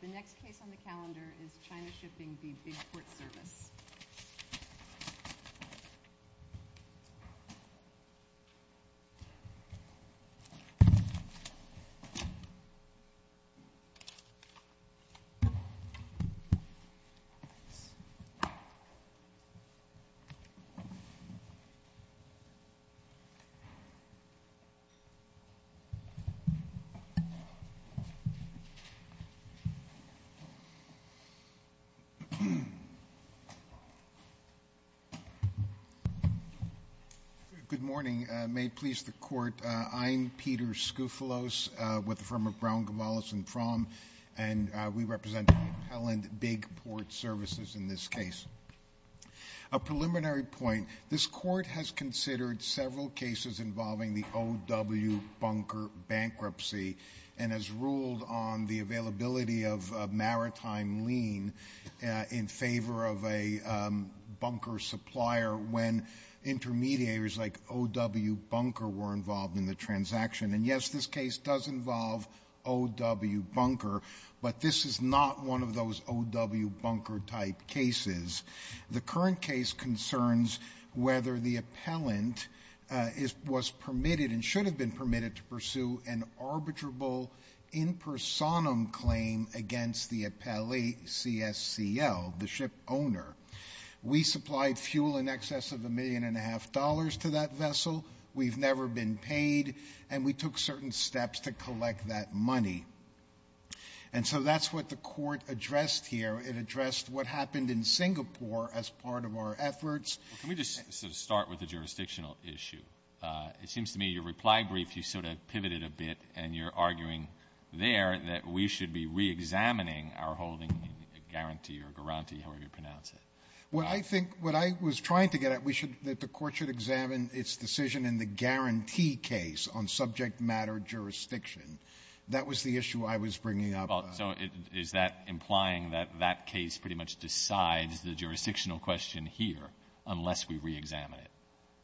The next case on the calendar is China Shipping v. Big Port Service. Good morning. May it please the Court, I'm Peter Skoufalos with the firm of Brown, Gavalis and Prom and we represent the big port services in this case. A preliminary point, this Court has considered several cases involving the OW bunker bankruptcy and has ruled on the maritime lien in favor of a bunker supplier when intermediaries like OW bunker were involved in the transaction. And yes, this case does involve OW bunker, but this is not one of those OW bunker type cases. The current case concerns whether the appellant was permitted to pursue an arbitrable in personam claim against the appellee CSCL, the ship owner. We supplied fuel in excess of a million and a half dollars to that vessel. We've never been paid and we took certain steps to collect that money. And so that's what the Court addressed here. It addressed what happened in Singapore as part of our efforts. Well, can we just sort of start with the jurisdictional issue? It seems to me your reply brief you sort of pivoted a bit and you're arguing there that we should be reexamining our holding guarantee or guarantee, however you pronounce it. What I think, what I was trying to get at, we should, that the Court should examine its decision in the guarantee case on subject matter jurisdiction. That was the issue I was bringing up. So is that implying that that case pretty much decides the jurisdictional question here unless we reexamine it?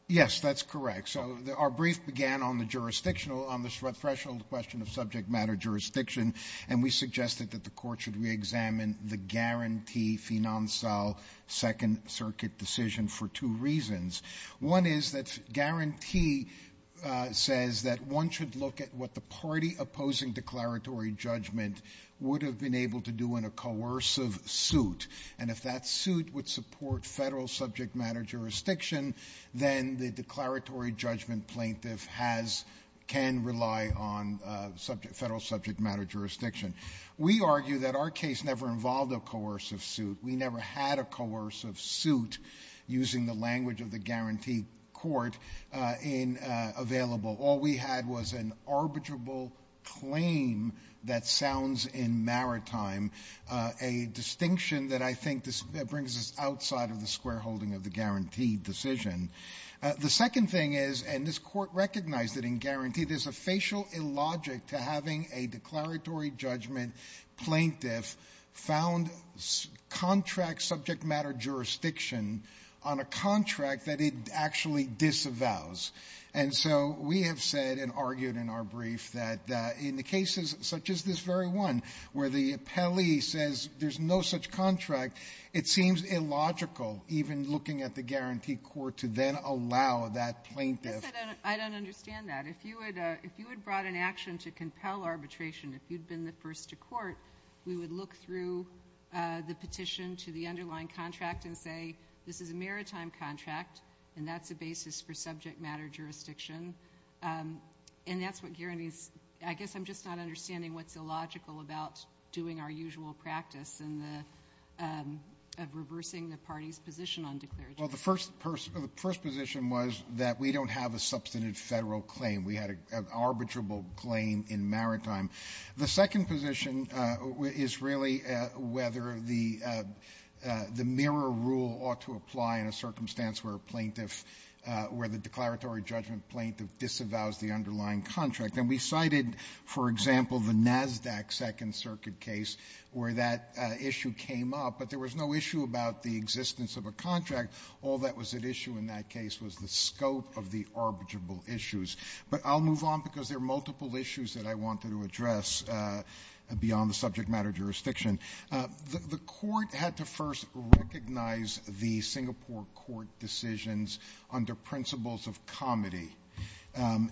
Yes, that's correct. So our brief began on the jurisdictional, on the threshold question of subject matter jurisdiction and we suggested that the Court should reexamine the guarantee financial second circuit decision for two reasons. One is that guarantee says that one should look at what the party opposing declaratory judgment would have been able to do in a coercive suit. And if that suit would support federal subject matter jurisdiction, then the declaratory judgment plaintiff has, can rely on federal subject matter jurisdiction. We argue that our case never involved a coercive suit. We never had a coercive suit using the terms of an arbitrable claim that sounds in maritime, a distinction that I think brings us outside of the square holding of the guaranteed decision. The second thing is, and this Court recognized that in guarantee there's a facial illogic to having a declaratory judgment plaintiff found contract subject matter jurisdiction on a contract that it actually disavows. And so we have said and argued in our brief that in the cases such as this very one where the appellee says there's no such contract, it seems illogical, even looking at the guarantee court, to then allow that plaintiff. Yes, I don't understand that. If you had brought an action to compel arbitration, if you'd been the first to court, we would look through the petition to the underlying contract and say this is a maritime contract, and that's a basis for subject matter jurisdiction. And that's what guarantees. I guess I'm just not understanding what's illogical about doing our usual practice in the of reversing the party's position on declaratory. Well, the first position was that we don't have a substantive federal claim. We had an arbitrable claim in maritime. The second position is really whether the mirror rule ought to apply in a circumstantial circumstance where a plaintiff, where the declaratory judgment plaintiff disavows the underlying contract. And we cited, for example, the NASDAQ Second Circuit case where that issue came up, but there was no issue about the existence of a contract. All that was at issue in that case was the scope of the arbitrable issues. But I'll move on because there are multiple issues that I wanted to address beyond the subject matter jurisdiction. The court had to first recognize the Singapore court decisions under principles of comity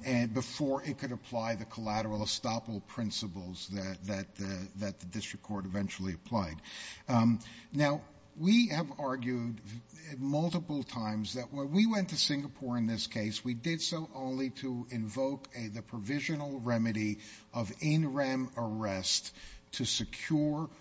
and before it could apply the collateral estoppel principles that the district court eventually applied. Now, we have argued multiple times that when we went to Singapore in this case, we did so only to invoke the provisional remedy of in rem arrest to secure the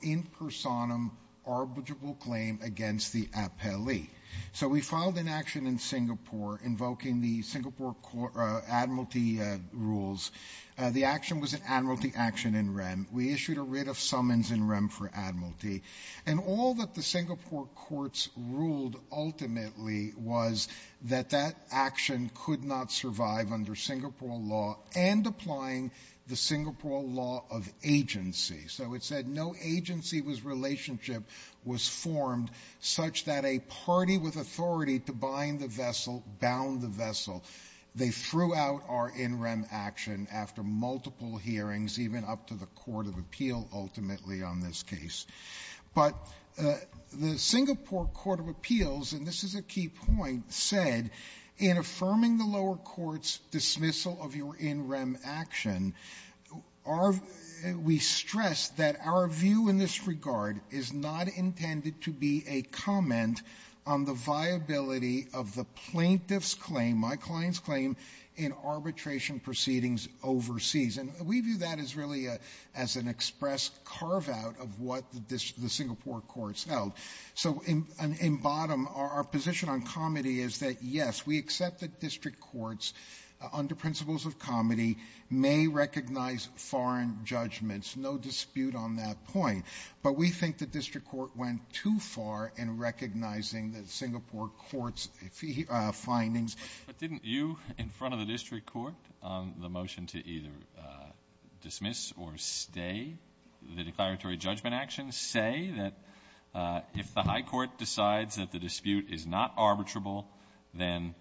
in personam arbitrable claim against the appellee. So we filed an action in Singapore invoking the Singapore court admiralty rules. The action was an admiralty action in rem. We issued a writ of summons in rem for admiralty. And all that the Singapore courts ruled ultimately was that that action could not survive under Singapore law and applying the Singapore law of agency. So it said no agency was relationship was formed such that a party with authority to bind the vessel, bound the vessel. They threw out our in rem action after multiple hearings, even up to the court of appeal ultimately on this case. But the Singapore court of appeals, and this is a key point, said in affirming the lower court's dismissal of your in rem action, we stress that our view in this regard is not intended to be a comment on the viability of the plaintiff's claim, my client's claim, in arbitration proceedings overseas. And we view that as really as an express carve out of what the Singapore courts held. So in bottom, our position on comedy is that, yes, we accept that district courts under principles of comedy may recognize foreign judgments. No dispute on that point. But we think the district court went too far in recognizing the Singapore court's findings. But didn't you in front of the district court on the motion to either dismiss or stay the If the high court decides that the dispute is not arbitrable, then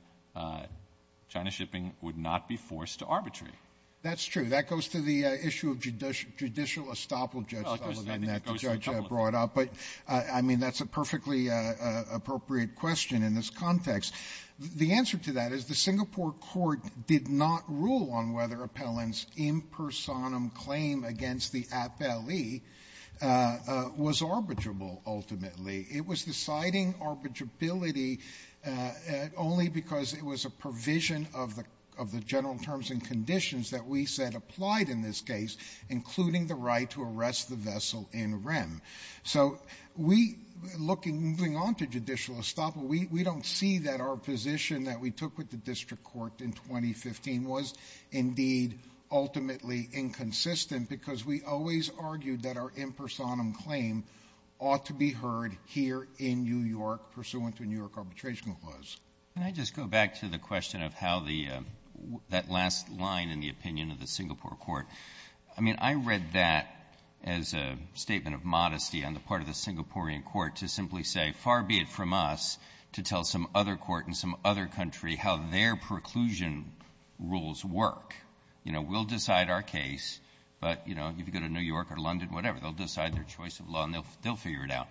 China shipping would not be forced to arbitrary. That's true. That goes to the issue of judicial judicial estoppel. Judge brought up. But I mean, that's a perfectly appropriate question in this context. The answer to that is the Singapore court did not rule on whether appellants in personam claim against the appellee was arbitrable. Ultimately, it was deciding arbitrability only because it was a provision of the of the general terms and conditions that we said applied in this case, including the right to arrest the vessel in rem. So we looking moving on to judicial estoppel, we don't see that our position that we took with the district court in 2015 was indeed ultimately inconsistent because we always argued that our in personam claim ought to be heard here in New York pursuant to New York arbitration clause. Can I just go back to the question of how the that last line in the opinion of the Singapore court, I mean, I read that as a statement of modesty on the part of the Singaporean court to simply say, far be it from us to tell some other court in some other country how their preclusion rules work. You know, we'll decide our case, but, you know, if you go to New York or London, whatever, they'll decide their choice of law, and they'll figure it out.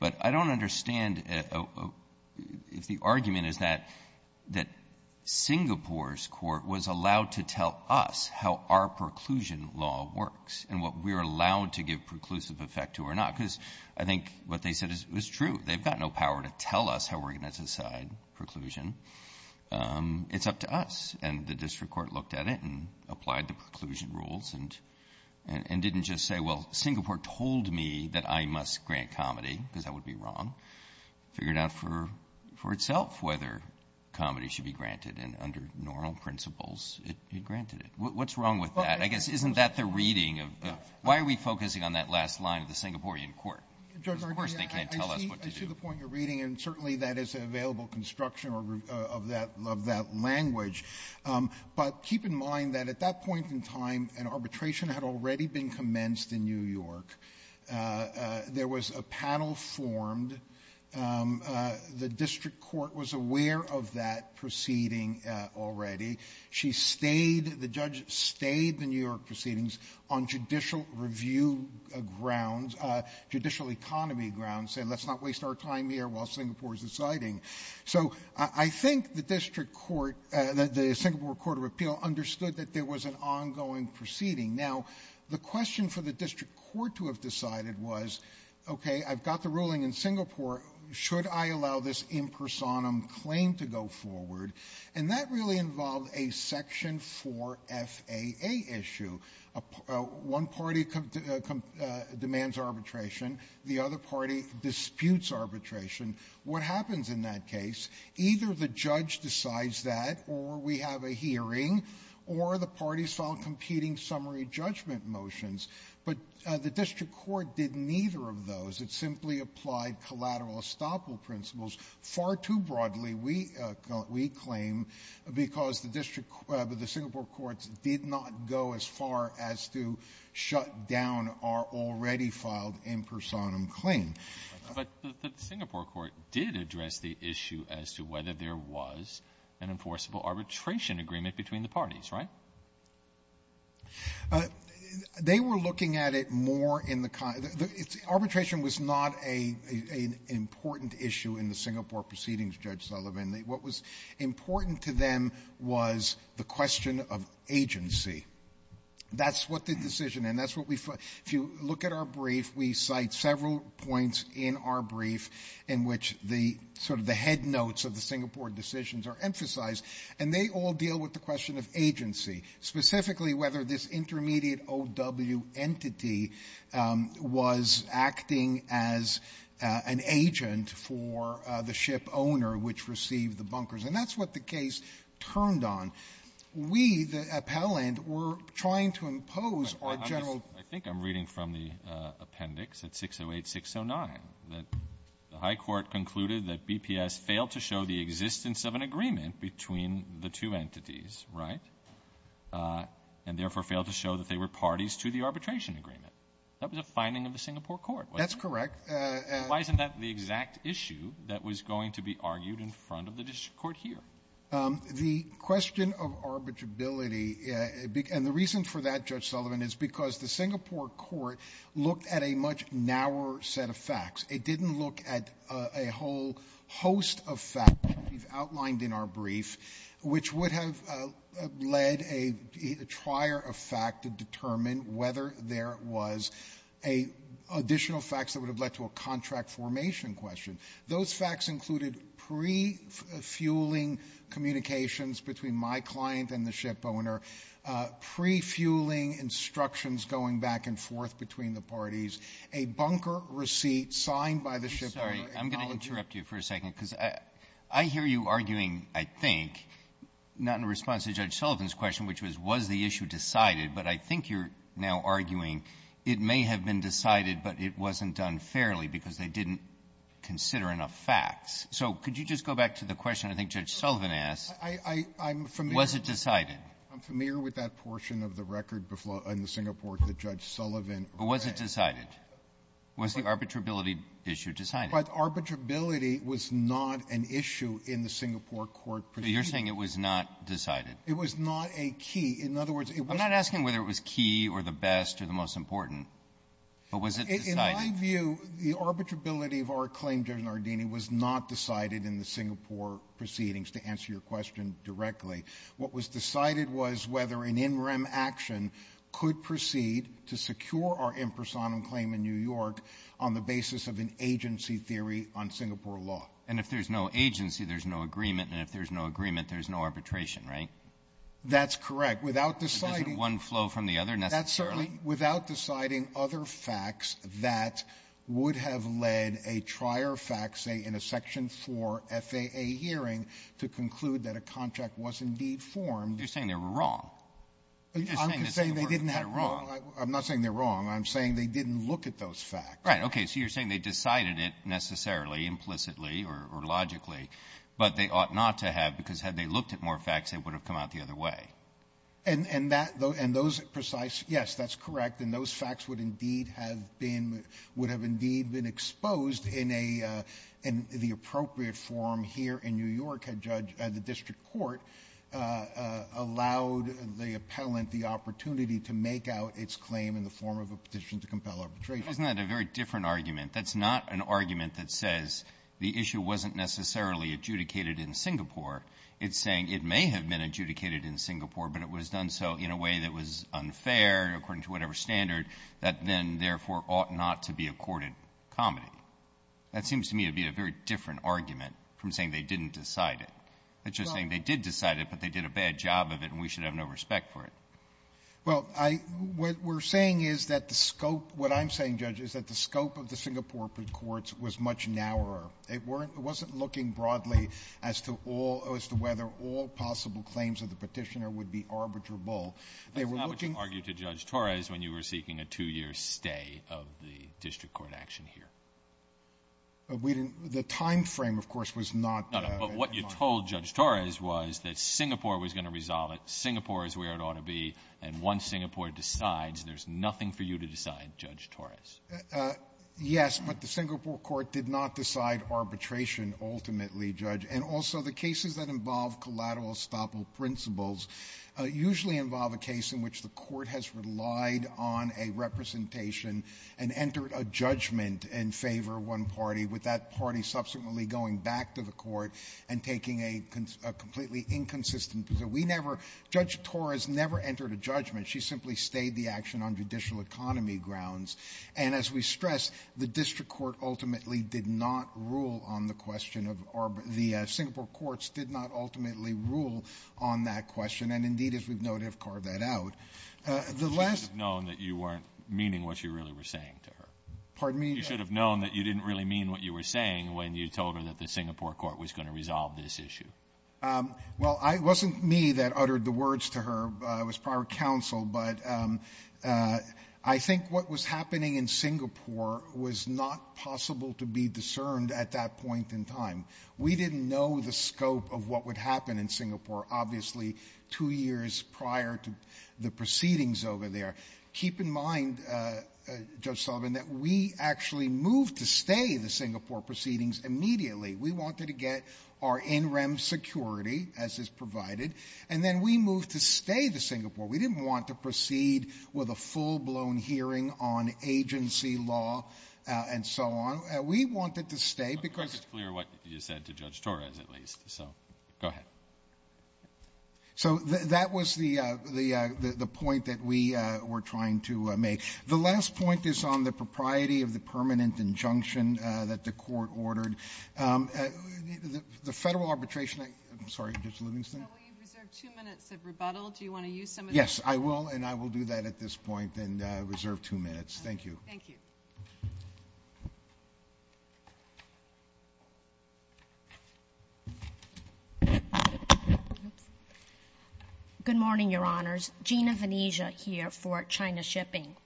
But I don't understand if the argument is that that Singapore's court was allowed to tell us how our preclusion law works and what we're allowed to give preclusive effect to or not, because I think what they said is true. They've got no power to tell us how we're going to decide preclusion. It's up to us. And the district court looked at it and applied the preclusion rules and didn't just say, well, Singapore told me that I must grant comedy, because that would be wrong. Figured out for itself whether comedy should be granted, and under normal principles, it granted it. What's wrong with that? I guess isn't that the reading of the why are we focusing on that last line of the court? Of course, they can't tell us what to do. Sotomayor, I see the point you're reading, and certainly that is an available construction of that language. But keep in mind that at that point in time, an arbitration had already been commenced in New York. There was a panel formed. The district court was aware of that proceeding already. She stayed, the judge stayed the New York judicial economy grounds, said let's not waste our time here while Singapore is deciding. So I think the district court, the Singapore Court of Appeal understood that there was an ongoing proceeding. Now, the question for the district court to have decided was, okay, I've got the ruling in Singapore. Should I allow this impersonum claim to go forward? And that really involved a section 4 FAA issue. One party demands arbitration. The other party disputes arbitration. What happens in that case? Either the judge decides that, or we have a hearing, or the parties file competing summary judgment motions. But the district court did neither of those. It simply applied collateral estoppel principles far too broadly, we claim, because the district court, the Singapore courts did not go as far as to shut down our already-filed impersonum claim. But the Singapore court did address the issue as to whether there was an enforceable arbitration agreement between the parties, right? They were looking at it more in the kind of the arbitration was not a an important issue in the Singapore proceedings, Judge Sullivan. What was important to them was the question of agency. That's what the decision, and that's what we find. If you look at our brief, we cite several points in our brief in which the sort of the head notes of the Singapore decisions are emphasized, and they all deal with the question of agency, specifically whether this intermediate OW entity was acting as an agent for the Singapore or the ship owner which received the bunkers. And that's what the case turned on. We, the appellant, were trying to impose our general Alitono, I think I'm reading from the appendix at 608-609, that the high court concluded that BPS failed to show the existence of an agreement between the two entities, right, and therefore failed to show that they were parties to the arbitration agreement. That was a finding of the Singapore court, wasn't it? That's correct. And why isn't that the exact issue that was going to be argued in front of the district court here? The question of arbitrability, and the reason for that, Judge Sullivan, is because the Singapore court looked at a much narrower set of facts. It didn't look at a whole host of facts that we've outlined in our brief, which would have led a trier of fact to determine whether there was additional facts that would have led to a contract formation question. Those facts included pre-fueling communications between my client and the ship owner, pre-fueling instructions going back and forth between the parties, a bunker receipt signed by the ship owner. I'm sorry. I'm going to interrupt you for a second, because I hear you arguing, I think, not in response to Judge Sullivan's question, which was, was the issue decided, but I think you're now arguing it may have been decided, but it wasn't done fairly because they didn't consider enough facts. So could you just go back to the question I think Judge Sullivan asked? I'm familiar. Was it decided? I'm familiar with that portion of the record in the Singapore that Judge Sullivan read. But was it decided? Was the arbitrability issue decided? But arbitrability was not an issue in the Singapore court proceeding. So you're saying it was not decided? It was not a key. In other words, it was not a key. I'm not asking whether it was key or the best or the most important, but was it decided? In my view, the arbitrability of our claim, Judge Nardini, was not decided in the Singapore proceedings, to answer your question directly. What was decided was whether an in rem action could proceed to secure our impersonum claim in New York on the basis of an agency theory on Singapore law. And if there's no agency, there's no agreement, and if there's no agreement, there's no arbitration, right? That's correct. Without deciding one flow from the other necessarily. Without deciding other facts that would have led a trier fact, say, in a Section 4 FAA hearing to conclude that a contract was indeed formed. You're saying they were wrong. I'm not saying they didn't have wrong. I'm not saying they're wrong. I'm saying they didn't look at those facts. Right. Okay. So you're saying they decided it necessarily, implicitly or logically, but they ought not to have because had they looked at more facts, they would have come out the other way. And that those precise, yes, that's correct. And those facts would indeed have been, would have indeed been exposed in a, in the appropriate form here in New York. A judge, the district court, allowed the appellant the opportunity to make out its claim in the form of a petition to compel arbitration. Isn't that a very different argument? That's not an argument that says the issue wasn't necessarily adjudicated in Singapore. It's saying it may have been adjudicated in Singapore, but it was done so in a way that was unfair according to whatever standard that then therefore ought not to be accorded comedy. That seems to me to be a very different argument from saying they didn't decide it. It's just saying they did decide it, but they did a bad job of it, and we should have no respect for it. Well, I — what we're saying is that the scope — what I'm saying, Judge, is that the scope of the Singapore courts was much narrower. It wasn't looking broadly as to all — as to whether all possible claims of the petitioner would be arbitrable. They were looking — That's not what you argued to Judge Torres when you were seeking a two-year stay of the district court action here. We didn't — the timeframe, of course, was not — No, no. But what you told Judge Torres was that Singapore was going to resolve it. Singapore is where it ought to be. And once Singapore decides, there's nothing for you to decide, Judge Torres. Yes, but the Singapore court did not decide arbitration, ultimately, Judge. And also, the cases that involve collateral estoppel principles usually involve a case in which the court has relied on a representation and entered a judgment in favor of one party, with that party subsequently going back to the court and taking a completely inconsistent — so we never — Judge Torres never entered a judgment. She simply stayed the action on judicial economy grounds. And as we stress, the district court ultimately did not rule on the question of — or the Singapore courts did not ultimately rule on that question. And indeed, as we've noted, have carved that out. The last — You should have known that you weren't meaning what you really were saying to her. Pardon me? You should have known that you didn't really mean what you were saying when you told her that the Singapore court was going to resolve this issue. Well, it wasn't me that uttered the words to her. It was prior counsel. But I think what was happening in Singapore was not possible to be discerned at that point in time. We didn't know the scope of what would happen in Singapore, obviously, two years prior to the proceedings over there. Keep in mind, Judge Sullivan, that we actually moved to stay the Singapore proceedings immediately. We wanted to get our in-rem security, as is provided, and then we moved to stay the Singapore. We didn't want to proceed with a full-blown hearing on agency law and so on. We wanted to stay because — I'm not quite as clear what you said to Judge Torres, at least. So go ahead. So that was the point that we were trying to make. The last point is on the propriety of the permanent injunction that the court ordered. The federal arbitration — I'm sorry, Judge Livingston? So we reserve two minutes of rebuttal. Do you want to use some of that? Yes, I will, and I will do that at this point and reserve two minutes. Thank you. Thank you. Good morning, Your Honors. Gina Venezia here for China Shipping.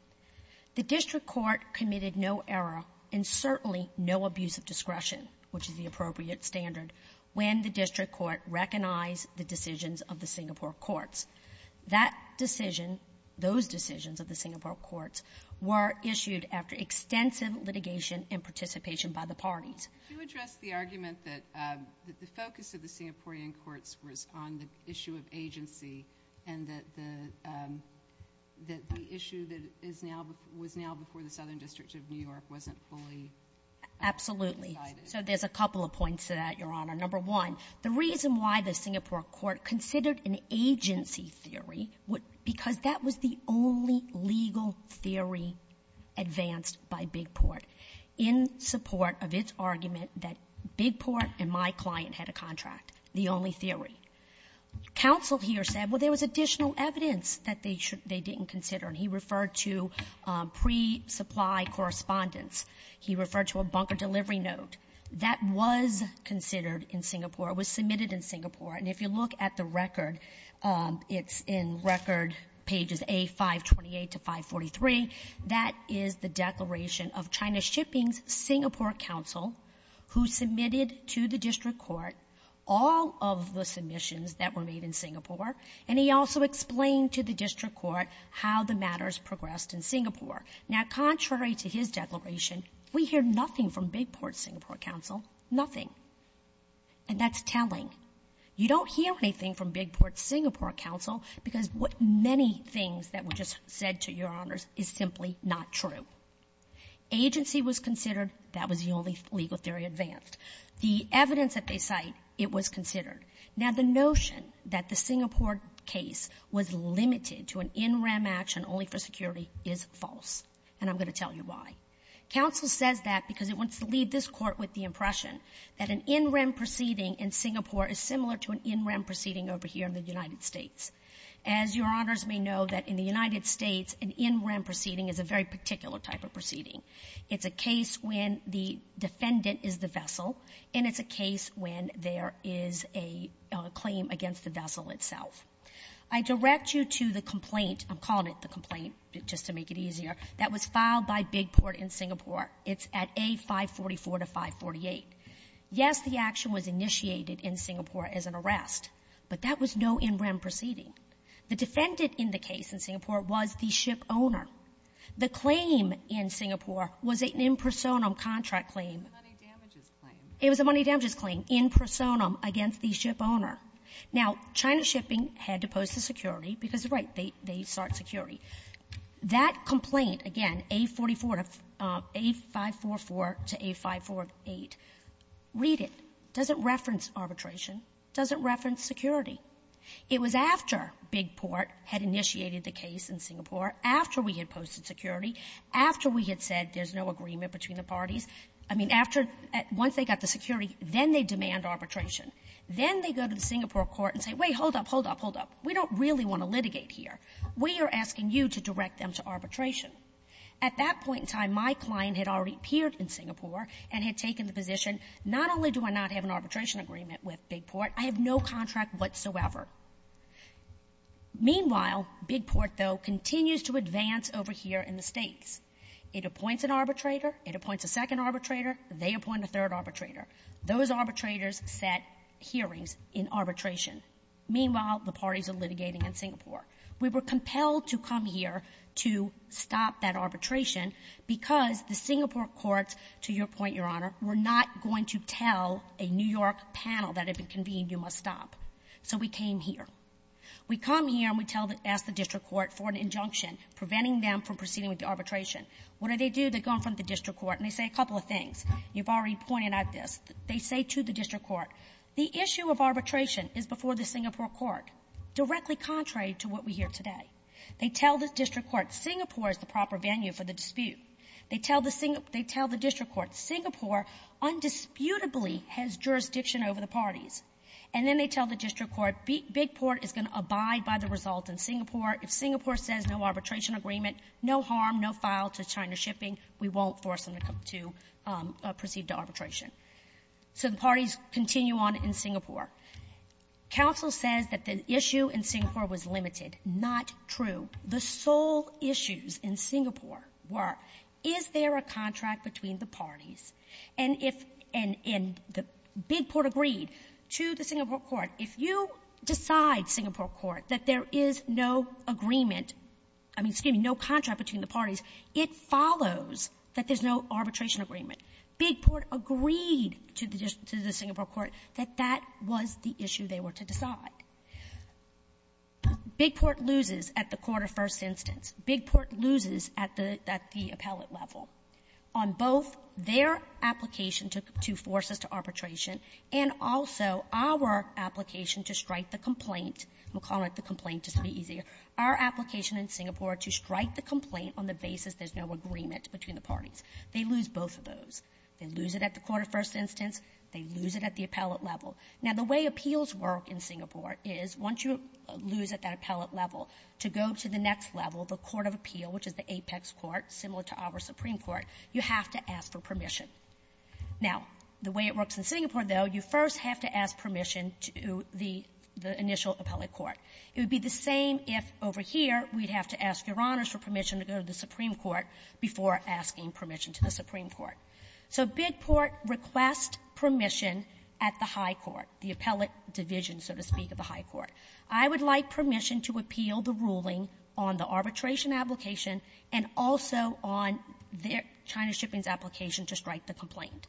The district court committed no error and certainly no abuse of discretion, which is the appropriate standard, when the district court recognized the decisions of the Singapore courts. That decision, those decisions of the Singapore courts, were issued after extensive litigation and participation by the parties. Could you address the argument that the focus of the Singaporean courts was on the issue of agency and that the issue that is now — was now before the Southern District of New York wasn't fully decided? Absolutely. So there's a couple of points to that, Your Honor. Number one, the reason why the Singapore court considered an agency theory would — because that was the only legal theory advanced by Big Port in support of its argument that Big Port and my client had a contract, the only theory. Counsel here said, well, there was additional evidence that they didn't consider, and he referred to pre-supply correspondence. He referred to a bunker delivery note. That was considered in Singapore. It was submitted in Singapore. And if you look at the record, it's in record pages A528 to 543. That is the declaration of China Shipping's Singapore counsel who submitted to the district court all of the submissions that were made in Singapore, and he also Now, contrary to his declaration, we hear nothing from Big Port's Singapore counsel. Nothing. And that's telling. You don't hear anything from Big Port's Singapore counsel because what — many things that were just said to Your Honors is simply not true. Agency was considered. That was the only legal theory advanced. The evidence that they cite, it was considered. Now, the notion that the Singapore case was limited to an in-rem action only for And I'm going to tell you why. Counsel says that because it wants to leave this Court with the impression that an in-rem proceeding in Singapore is similar to an in-rem proceeding over here in the United States. As Your Honors may know, that in the United States, an in-rem proceeding is a very particular type of proceeding. It's a case when the defendant is the vessel, and it's a case when there is a claim against the vessel itself. I direct you to the complaint — I'm calling it the complaint just to make it easier — that was filed by Big Port in Singapore. It's at A544 to 548. Yes, the action was initiated in Singapore as an arrest, but that was no in-rem proceeding. The defendant in the case in Singapore was the ship owner. The claim in Singapore was an in personam contract claim. It was a money damages claim. It was a money damages claim in personam against the ship owner. Now, China Shipping had to post the security because, right, they start security. That complaint, again, A44 to — A544 to A548, read it. It doesn't reference arbitration. It doesn't reference security. It was after Big Port had initiated the case in Singapore, after we had posted security, after we had said there's no agreement between the parties. I mean, after — once they got the security, then they demand arbitration. Then they go to the Singapore court and say, wait, hold up, hold up, hold up. We don't really want to litigate here. We are asking you to direct them to arbitration. At that point in time, my client had already appeared in Singapore and had taken the position, not only do I not have an arbitration agreement with Big Port, I have no contract whatsoever. Meanwhile, Big Port, though, continues to advance over here in the States. It appoints an arbitrator. It appoints a second arbitrator. They appoint a third arbitrator. Those arbitrators set hearings in arbitration. Meanwhile, the parties are litigating in Singapore. We were compelled to come here to stop that arbitration because the Singapore courts, to your point, Your Honor, were not going to tell a New York panel that if it convened, you must stop. So we came here. We come here and we tell — ask the district court for an injunction preventing them from proceeding with the arbitration. What do they do? They go in front of the district court, and they say a couple of things. You've already pointed out this. They say to the district court, the issue of arbitration is before the Singapore court, directly contrary to what we hear today. They tell the district court Singapore is the proper venue for the dispute. They tell the — they tell the district court Singapore undisputably has jurisdiction over the parties. And then they tell the district court Big Port is going to abide by the result in Singapore. If Singapore says no arbitration agreement, no harm, no file to China Shipping, we won't force them to proceed to arbitration. So the parties continue on in Singapore. Counsel says that the issue in Singapore was limited. Not true. The sole issues in Singapore were, is there a contract between the parties? And if — and the Big Port agreed to the Singapore court. If you decide, Singapore court, that there is no agreement — I mean, excuse me, no contract between the parties, it follows that there's no arbitration agreement. Big Port agreed to the Singapore court that that was the issue they were to decide. Big Port loses at the quarter-first instance. Big Port loses at the — at the appellate level on both their application to — to force us to arbitration and also our application to strike the complaint. We'll call it the complaint just to be easier. Our application in Singapore to strike the complaint on the basis there's no agreement between the parties. They lose both of those. They lose it at the quarter-first instance. They lose it at the appellate level. Now, the way appeals work in Singapore is once you lose at that appellate level, to go to the next level, the court of appeal, which is the apex court, similar to our Supreme Court, you have to ask for permission. Now, the way it works in Singapore, though, you first have to ask permission to the — the initial appellate court. It would be the same if, over here, we'd have to ask Your Honors for permission to go to the Supreme Court before asking permission to the Supreme Court. So Big Port requests permission at the high court, the appellate division, so to speak, of the high court. I would like permission to appeal the ruling on the arbitration application and also on their — China Shipping's application to strike the complaint.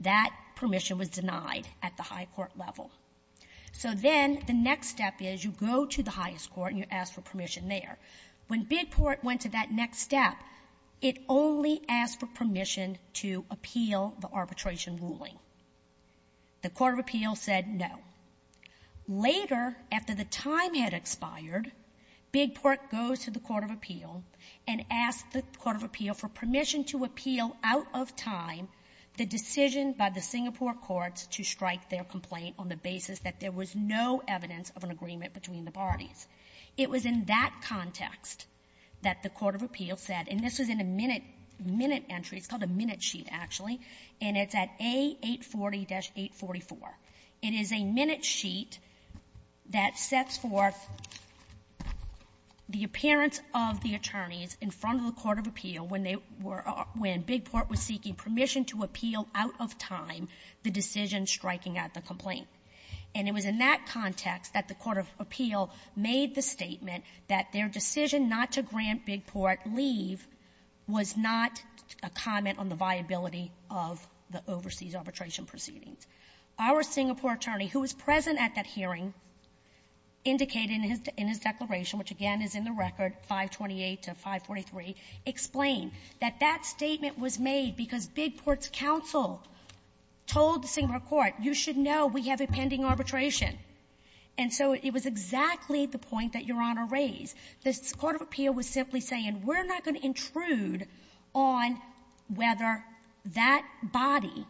That permission was denied at the high court level. So then the next step is you go to the highest court and you ask for permission there. When Big Port went to that next step, it only asked for permission to appeal the arbitration ruling. The court of appeal said no. Later, after the time had expired, Big Port goes to the court of appeal and asks the court of appeal for permission to appeal out of time the decision by the Singapore courts to strike their complaint on the basis that there was no evidence of an agreement between the parties. It was in that context that the court of appeal said — and this was in a minute — minute entry. It's called a minute sheet, actually. And it's at A840-844. It is a minute sheet that sets forth the appearance of the attorneys in front of the court of appeal when they were — when Big Port was seeking permission to appeal out of time the decision striking at the complaint. And it was in that context that the court of appeal made the statement that their decision not to grant Big Port leave was not a comment on the viability of the overseas arbitration proceedings. Our Singapore attorney, who was present at that hearing, indicated in his declaration, which, again, is in the record, 528 to 543, explained that that statement was made because Big Port's counsel told the Singapore court, you should know we have a pending arbitration. And so it was exactly the point that Your Honor raised. The court of appeal was simply saying, we're not going to intrude on whether that body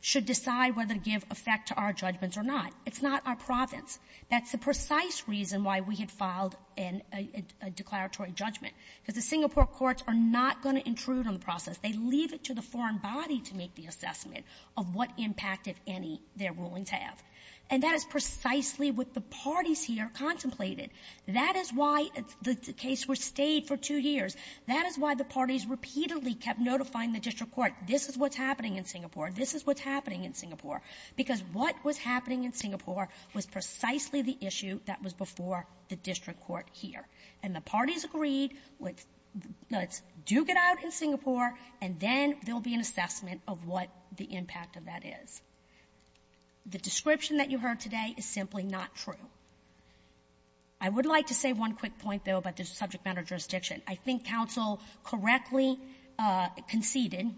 should decide whether to give effect to our judgments or not. It's not our province. That's the precise reason why we had filed a declaratory judgment, because the Singapore courts are not going to intrude on the process. They leave it to the foreign body to make the assessment of what impact, if any, their rulings have. And that is precisely what the parties here contemplated. That is why the case was stayed for two years. That is why the parties repeatedly kept notifying the district court, this is what's happening in Singapore, this is what's happening in Singapore, because what was happening in Singapore was precisely the issue that was before the district court here. And the parties agreed, let's And then there will be an assessment of what the impact of that is. The description that you heard today is simply not true. I would like to say one quick point, though, about the subject matter jurisdiction. I think counsel correctly conceded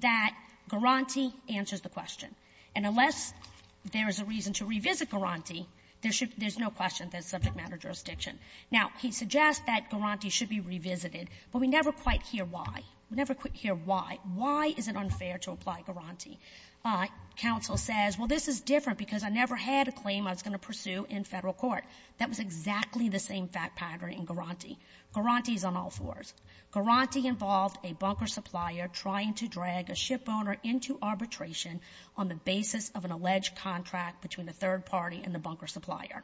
that Guaranty answers the question. And unless there is a reason to revisit Guaranty, there should be no question that it's subject matter jurisdiction. Now, he suggests that Guaranty should be revisited, but we never quite hear why. We never quite hear why. Why is it unfair to apply Guaranty? Counsel says, well, this is different because I never had a claim I was going to pursue in federal court. That was exactly the same fact pattern in Guaranty. Guaranty is on all fours. Guaranty involved a bunker supplier trying to drag a shipowner into arbitration on the basis of an alleged contract between the third party and the bunker supplier.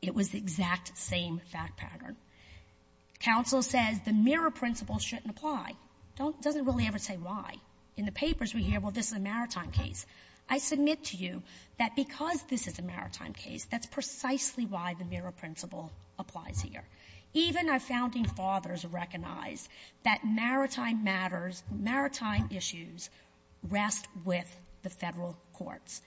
It was the exact same fact pattern. Counsel says the mirror principle shouldn't apply. Doesn't really ever say why. In the papers, we hear, well, this is a maritime case. I submit to you that because this is a maritime case, that's precisely why the mirror principle applies here. Even our founding fathers recognized that maritime matters, maritime issues rest with the Federal courts.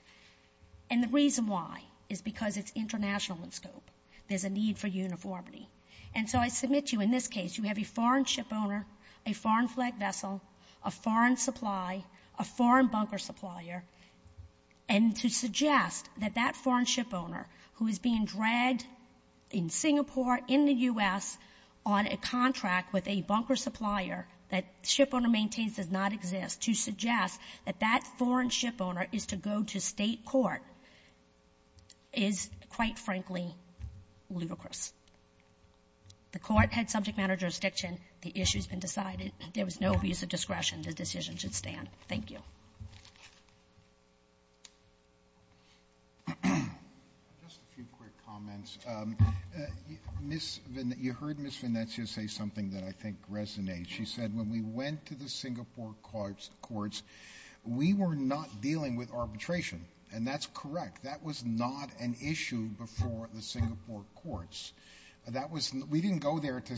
And the reason why is because it's international in scope. There's a need for uniformity. And so I submit to you in this case, you have a foreign shipowner, a foreign flag vessel, a foreign supply, a foreign bunker supplier, and to suggest that that foreign shipowner, who is being dragged in Singapore, in the U.S., on a contract with a bunker supplier that shipowner maintains does not exist, to suggest that that foreign shipowner is to go to State court is, quite frankly, ludicrous. The Court had subject matter jurisdiction. The issue has been decided. There was no abuse of discretion. The decision should stand. Thank you. Just a few quick comments. You heard Ms. Venezia say something that I think resonates. She said, when we went to the Singapore courts, we were not dealing with arbitration. And that's correct. That was not an issue before the Singapore courts. We didn't go there to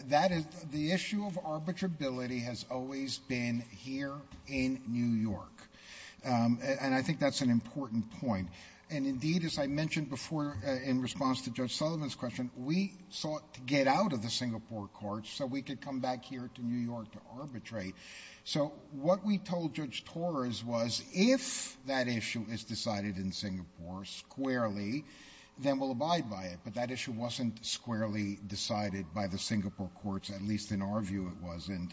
The issue of arbitrability has always been here in New York. And I think that's an important point. And indeed, as I mentioned before, in response to Judge Sullivan's question, we sought to get out of the Singapore courts so we could come back here to New York to arbitrate. So what we told Judge Torres was, if that issue is decided in Singapore squarely, then we'll abide by it. But that issue wasn't squarely decided by the Singapore courts, at least in our view it wasn't.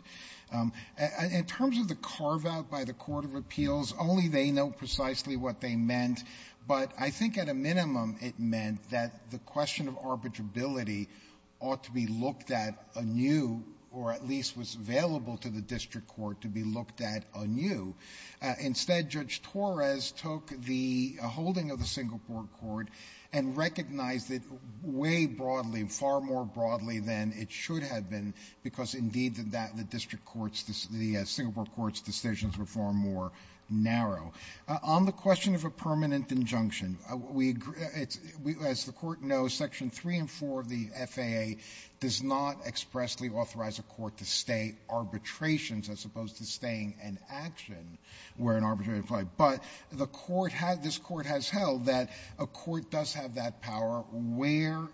In terms of the carveout by the Court of Appeals, only they know precisely what they meant. But I think at a minimum it meant that the question of arbitrability ought to be looked at anew, or at least was available to the district court to be looked at anew. Instead, Judge Torres took the holding of the Singapore court and recognized it way more broadly, far more broadly than it should have been, because indeed the district courts, the Singapore courts' decisions were far more narrow. On the question of a permanent injunction, as the Court knows, Section 3 and 4 of the FAA does not expressly authorize a court to stay arbitrations as opposed to staying an action where an arbitration applies. But this Court has held that a court does have that power where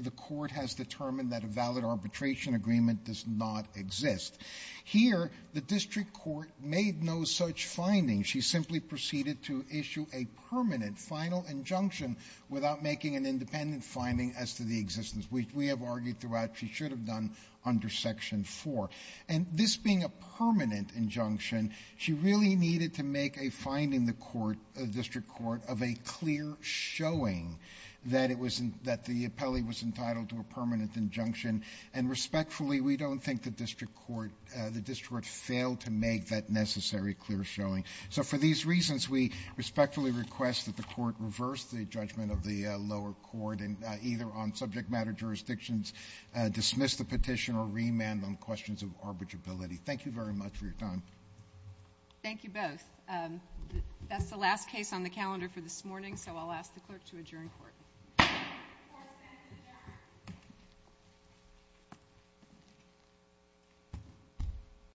the court has determined that a valid arbitration agreement does not exist. Here, the district court made no such findings. She simply proceeded to issue a permanent final injunction without making an independent finding as to the existence, which we have argued throughout she should have done under Section 4. And this being a permanent injunction, she really needed to make a finding in the court, the district court, of a clear showing that the appellee was entitled to a permanent injunction. And respectfully, we don't think the district court failed to make that necessary clear showing. So for these reasons, we respectfully request that the Court reverse the judgment of the lower court and either on subject matter jurisdictions dismiss the petition or remand on questions of arbitrability. Thank you very much for your time. Thank you both. That's the last case on the calendar for this morning, so I'll ask the clerk to adjourn court.